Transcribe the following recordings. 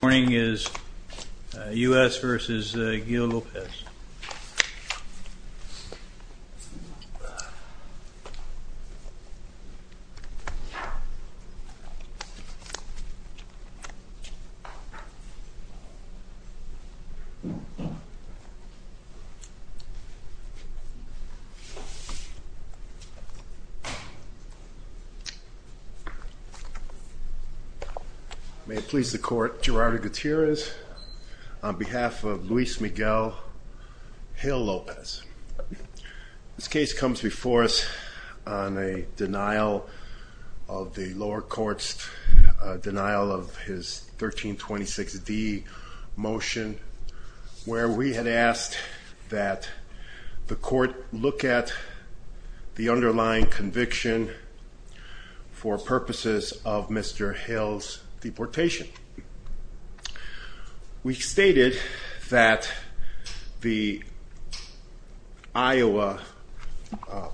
This morning is U.S. v. Gil-Lopez. May it please the court, Gerardo Gutierrez, on behalf of Luis Miguel, Gil-Lopez. This case comes before us on a denial of the lower court's denial of his 1326d motion where we had asked that the court look at the underlying the Idaho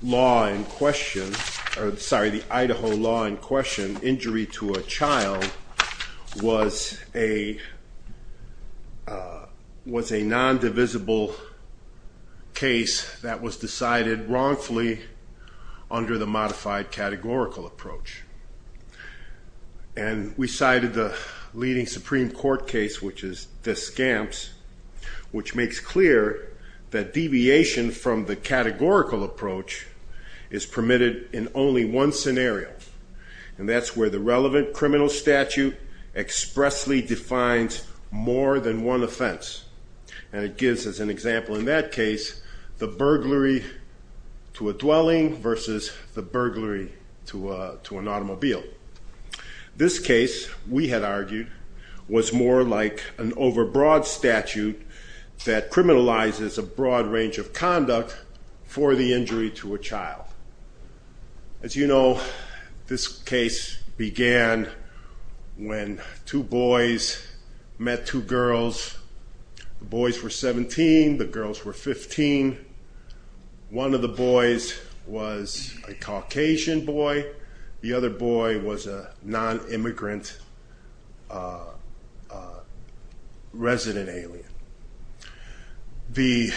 law in question, injury to a child, was a nondivisible case that was decided wrongfully under the modified categorical approach. And we cited the leading Supreme Court case, which is Descamps, which makes clear that deviation from the categorical approach is permitted in only one scenario, and that's where the relevant criminal statute expressly defines more than one offense. And it gives us an example in that case, the burglary to a dwelling versus the an overbroad statute that criminalizes a broad range of conduct for the injury to a child. As you know, this case began when two boys met two girls. The boys were 17, the girls were 15. One of the boys was a Caucasian boy, the other boy was a non-immigrant resident alien. The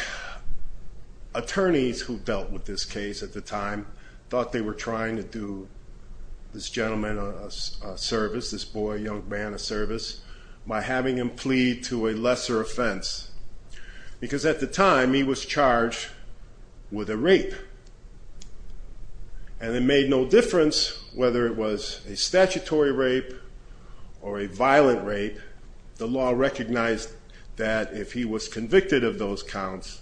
attorneys who dealt with this case at the time thought they were trying to do this gentleman a service, this boy, young man, a service, by having him plead to a lesser offense. Because at the time, he was charged with a rape. And it made no difference whether it was a statutory rape or a violent rape. The law recognized that if he was convicted of those counts,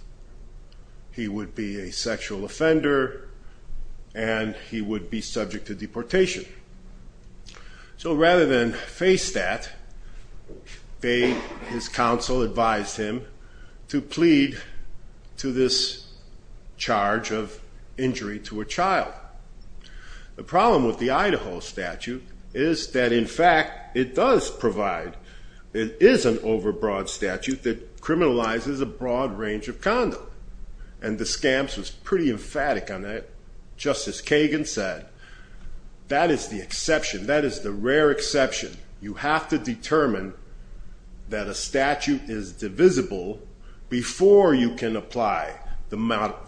he would be a sexual offender and he would be subject to deportation. So rather than face that, his counsel advised him to plead to this charge of injury to a child. The problem with the Idaho statute is that in fact it does provide, it is an overbroad statute that criminalizes a broad range of conduct. And the scams was pretty emphatic on that, just as Kagan said. That is the exception, that is the rare exception. You have to determine that a statute is divisible before you can apply the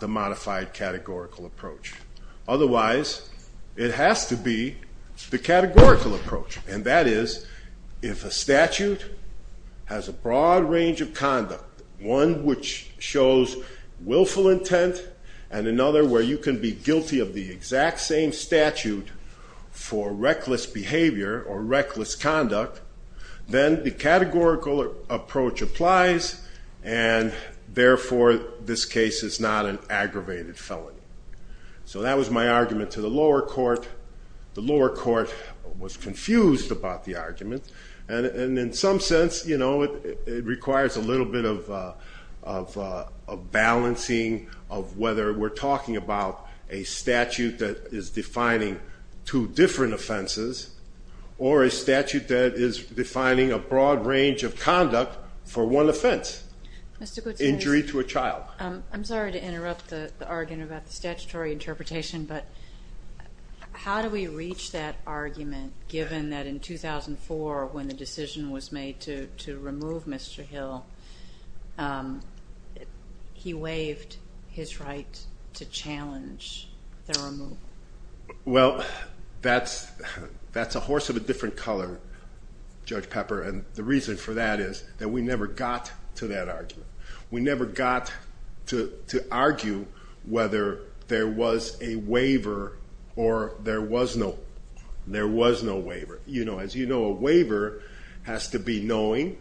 modified categorical approach. Otherwise, it has to be the categorical approach. And that is, if a statute has a broad range of conduct, one which shows willful intent, and another where you can be reckless conduct, then the categorical approach applies and therefore this case is not an aggravated felony. So that was my argument to the lower court. The lower court was confused about the argument. And in some sense, it requires a little bit of balancing of whether we're talking about a statute that is defining two different offenses, or a statute that is defining a broad range of conduct for one offense. Injury to a child. I'm sorry to interrupt the argument about the statutory interpretation, but how do we reach that argument given that in 2004, when the decision was made to remove Mr. Hill, he waived his right to challenge Well, that's a horse of a different color, Judge Pepper, and the reason for that is that we never got to that argument. We never got to argue whether there was a waiver or there was no waiver. As you know, a waiver has to be knowing,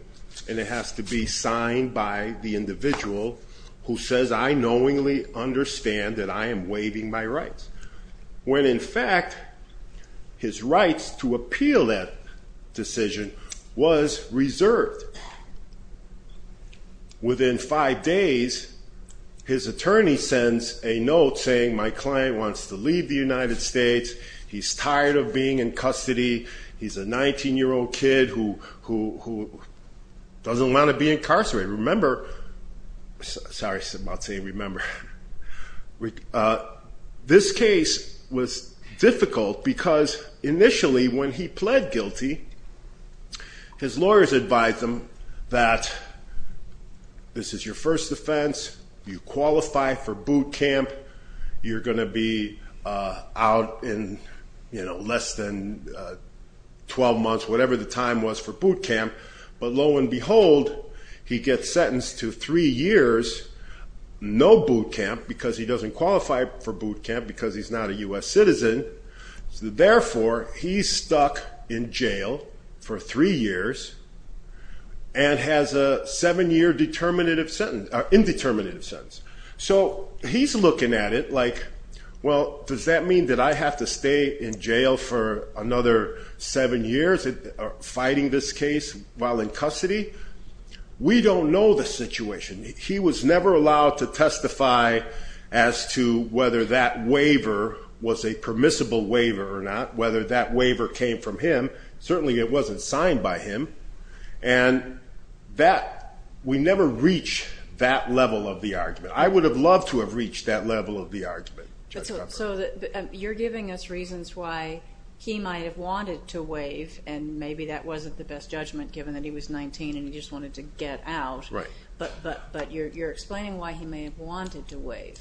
and it has to be signed by the individual who says, I knowingly understand that I am waiving my rights. When in fact, his rights to appeal that decision was reserved. Within five days, his attorney sends a note saying my client wants to leave the United States. He's tired of being in custody. He's a 19-year-old kid who doesn't want to be incarcerated. This case was difficult because initially when he pled guilty, his lawyers advised him that this is your first offense. You qualify for boot camp. You're going to be out in less than 12 months, whatever the time was for boot camp. But lo and behold, he gets sentenced to three years, no boot camp because he doesn't qualify for boot camp because he's not a U.S. citizen. Therefore, he's stuck in jail for three years and has a seven-year indeterminative sentence. He's looking at it like, well, does that mean that I have to stay in jail for another seven years fighting this case while in custody? We don't know the situation. He was never allowed to testify as to whether that waiver was a permissible waiver or not, whether that waiver came from him. Certainly it wasn't signed by him. We never reach that level of the argument. I would have loved to have reached that level of the argument. You're giving us reasons why he might have wanted to waive, and maybe that wasn't the best judgment given that he was 19 and he just wanted to get out. Right. But you're explaining why he may have wanted to waive.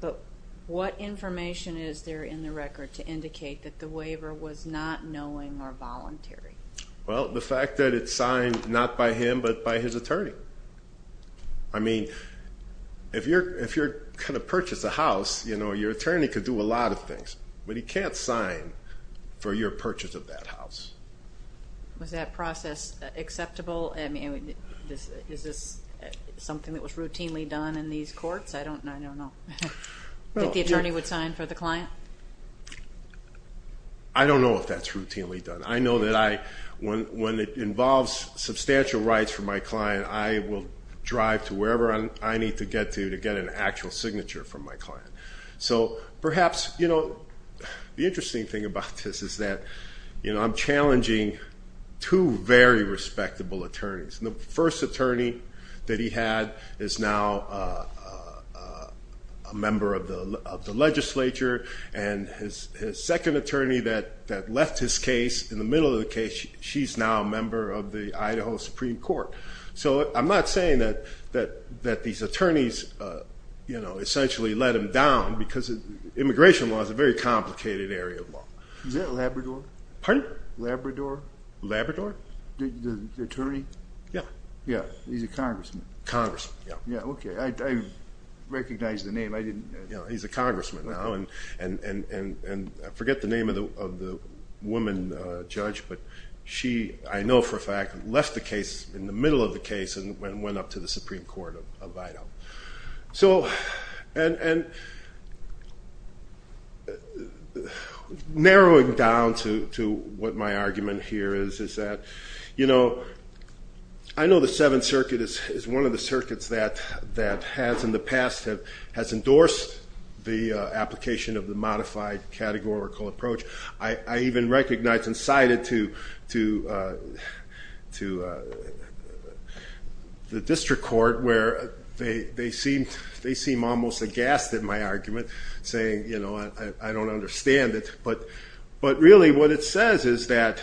But what information is there in the record to indicate that the waiver was not knowing or voluntary? Well, the fact that it's signed not by him but by his attorney. I mean, if you're going to purchase a house, your attorney could do a lot of things, but he can't sign for your purchase of that house. Was that process acceptable? I mean, is this something that was routinely done in these courts? I don't know. Did the attorney would sign for the client? I don't know if that's routinely done. I know that when it involves substantial rights for my client, I will drive to wherever I need to get to to get an actual signature from my client. So perhaps, you know, the interesting thing about this is that I'm challenging two very respectable attorneys. The first attorney that he had is now a member of the legislature, and his second attorney that left his case in the middle of the case, she's now a member of the Idaho Supreme Court. So I'm not saying that these attorneys, you know, essentially let him down because immigration law is a very complicated area of law. Is that Labrador? Pardon? Labrador? Labrador? The attorney? Yeah. Yeah. He's a congressman. Congressman, yeah. Yeah, okay. I recognize the name. I didn't... Yeah, he's a congressman now, and I forget the name of the woman judge, but she, I know for a fact, left the case in the middle of the case and went up to the Supreme Court of Idaho. So, and narrowing down to what my argument here is, is that, you know, I know the Seventh Circuit is one of the circuits that has in the past has endorsed the application of the modified categorical approach. I even recognized and cited to the district court where they seem almost aghast at my argument, saying, you know, I don't understand it. But really what it says is that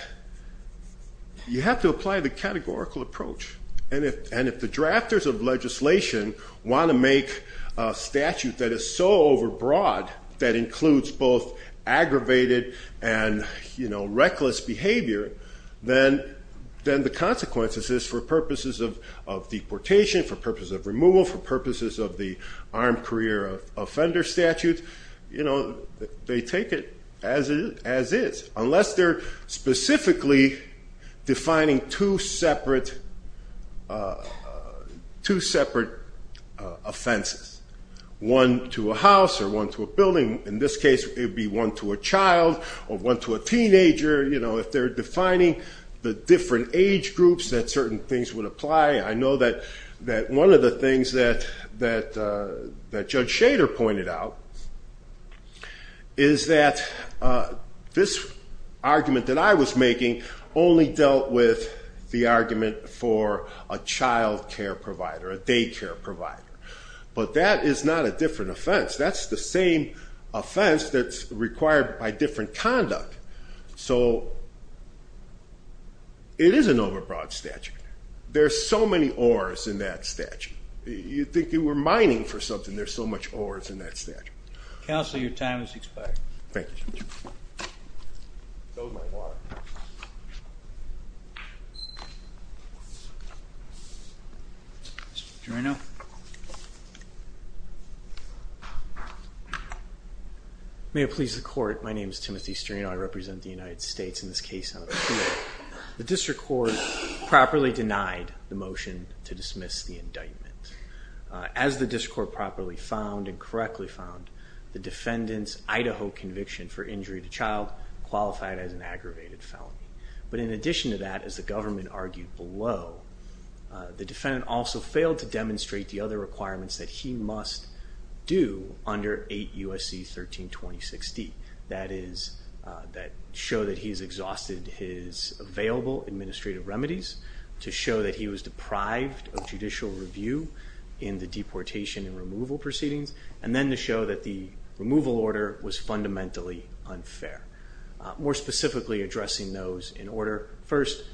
you have to apply the categorical approach, and if the drafters of legislation want to make a statute that is so overbroad that includes both aggravated and, you know, reckless behavior, then the consequences is for purposes of deportation, for purposes of removal, for purposes of the armed career offender statute, you know, they take it as is, unless they're specifically defining two separate offenses, one to a house or one to a building. In this case, it would be one to a child or one to a teenager. You know, if they're defining the different age groups that certain things would apply. I know that one of the things that Judge Shader pointed out is that this argument that I was making only dealt with the argument for a child care provider, a day care provider. But that is not a different offense. That's the same offense that's required by different conduct. So it is an overbroad statute. There's so many ores in that statute. You'd think you were mining for something. There's so much ores in that statute. Counsel, your time is expired. Thank you, Judge. Mr. Strano. May it please the court, my name is Timothy Strano. I represent the United States in this case. The district court properly denied the motion to dismiss the indictment. As the district court properly found and correctly found, the defendant's Idaho conviction for injury to child qualified as an aggravated felony. But in addition to that, as the government argued below, the defendant also failed to demonstrate the other requirements that he must do under 8 U.S.C. 13-2060. That is, that show that he's exhausted his available administrative remedies, to show that he was deprived of judicial review in the deportation and removal proceedings, and then to show that the removal order was fundamentally unfair. More specifically, addressing those in order. First,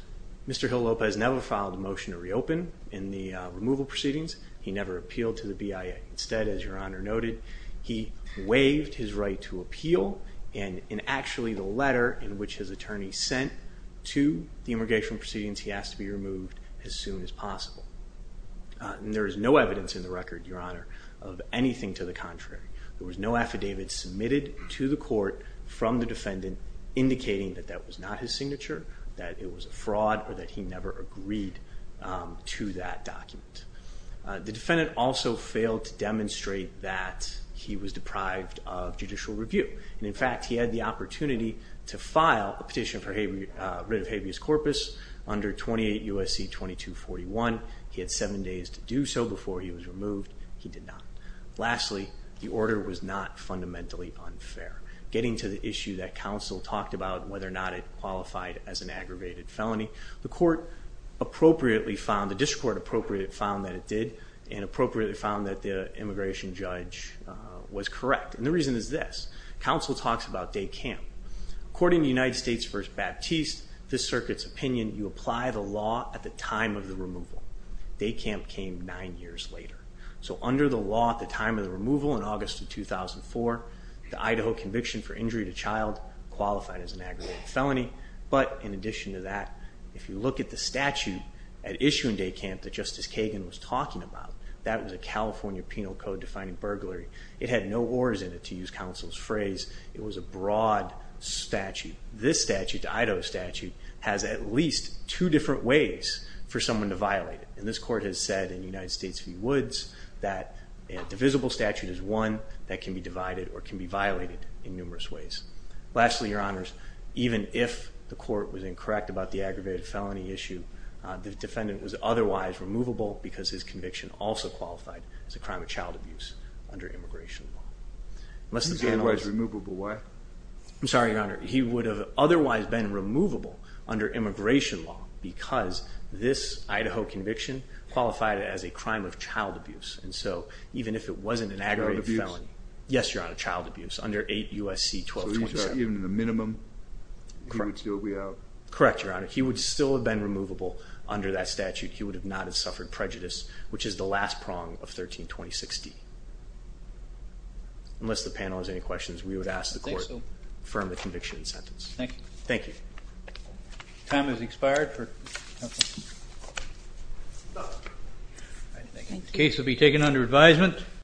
Mr. Hill Lopez never filed a motion to reopen in the removal proceedings. He never appealed to the BIA. Instead, as your Honor noted, he waived his right to appeal, and in actually the letter in which his attorney sent to the immigration proceedings, he has to be removed as soon as possible. There is no evidence in the record, your Honor, of anything to the contrary. There was no affidavit submitted to the court from the defendant indicating that that was not his signature, that it was a fraud, or that he never agreed to that document. The defendant also failed to demonstrate that he was deprived of judicial review. In fact, he had the opportunity to file a petition for writ of habeas corpus under 28 U.S.C. 2241. He had seven days to do so before he was removed. He did not. Lastly, the order was not fundamentally unfair. Getting to the issue that counsel talked about, whether or not it qualified as an aggravated felony, the court appropriately found, the district court appropriately found that it did, and appropriately found that the immigration judge was correct. And the reason is this. Counsel talks about day camp. According to United States v. Baptiste, this circuit's opinion, you apply the law at the time of the removal. Day camp came nine years later. So under the law at the time of the removal in August of 2004, the Idaho conviction for injury to child qualified as an aggravated felony. But in addition to that, if you look at the statute at issue in day camp that Justice Kagan was talking about, that was a California penal code defining burglary. It had no wars in it, to use counsel's phrase. It was a broad statute. This statute, the Idaho statute, has at least two different ways for someone to violate it. And this court has said in United States v. Woods that a divisible statute is one that can be divided or can be violated in numerous ways. Lastly, your honors, even if the court was incorrect about the aggravated felony issue, the defendant was otherwise removable because his conviction also qualified as a crime of child abuse under immigration law. He was otherwise removable, why? I'm sorry, your honor. He would have otherwise been removable under immigration law because this Idaho conviction qualified it as a crime of child abuse. And so even if it wasn't an aggravated felony. Child abuse? Yes, your honor, child abuse under 8 U.S.C. 1227. Correct, your honor. He would still have been removable under that statute. He would not have suffered prejudice, which is the last prong of 1326D. Unless the panel has any questions, we would ask the court to confirm the conviction and sentence. Thank you. Thank you. Time has expired. The case will be taken under advisement.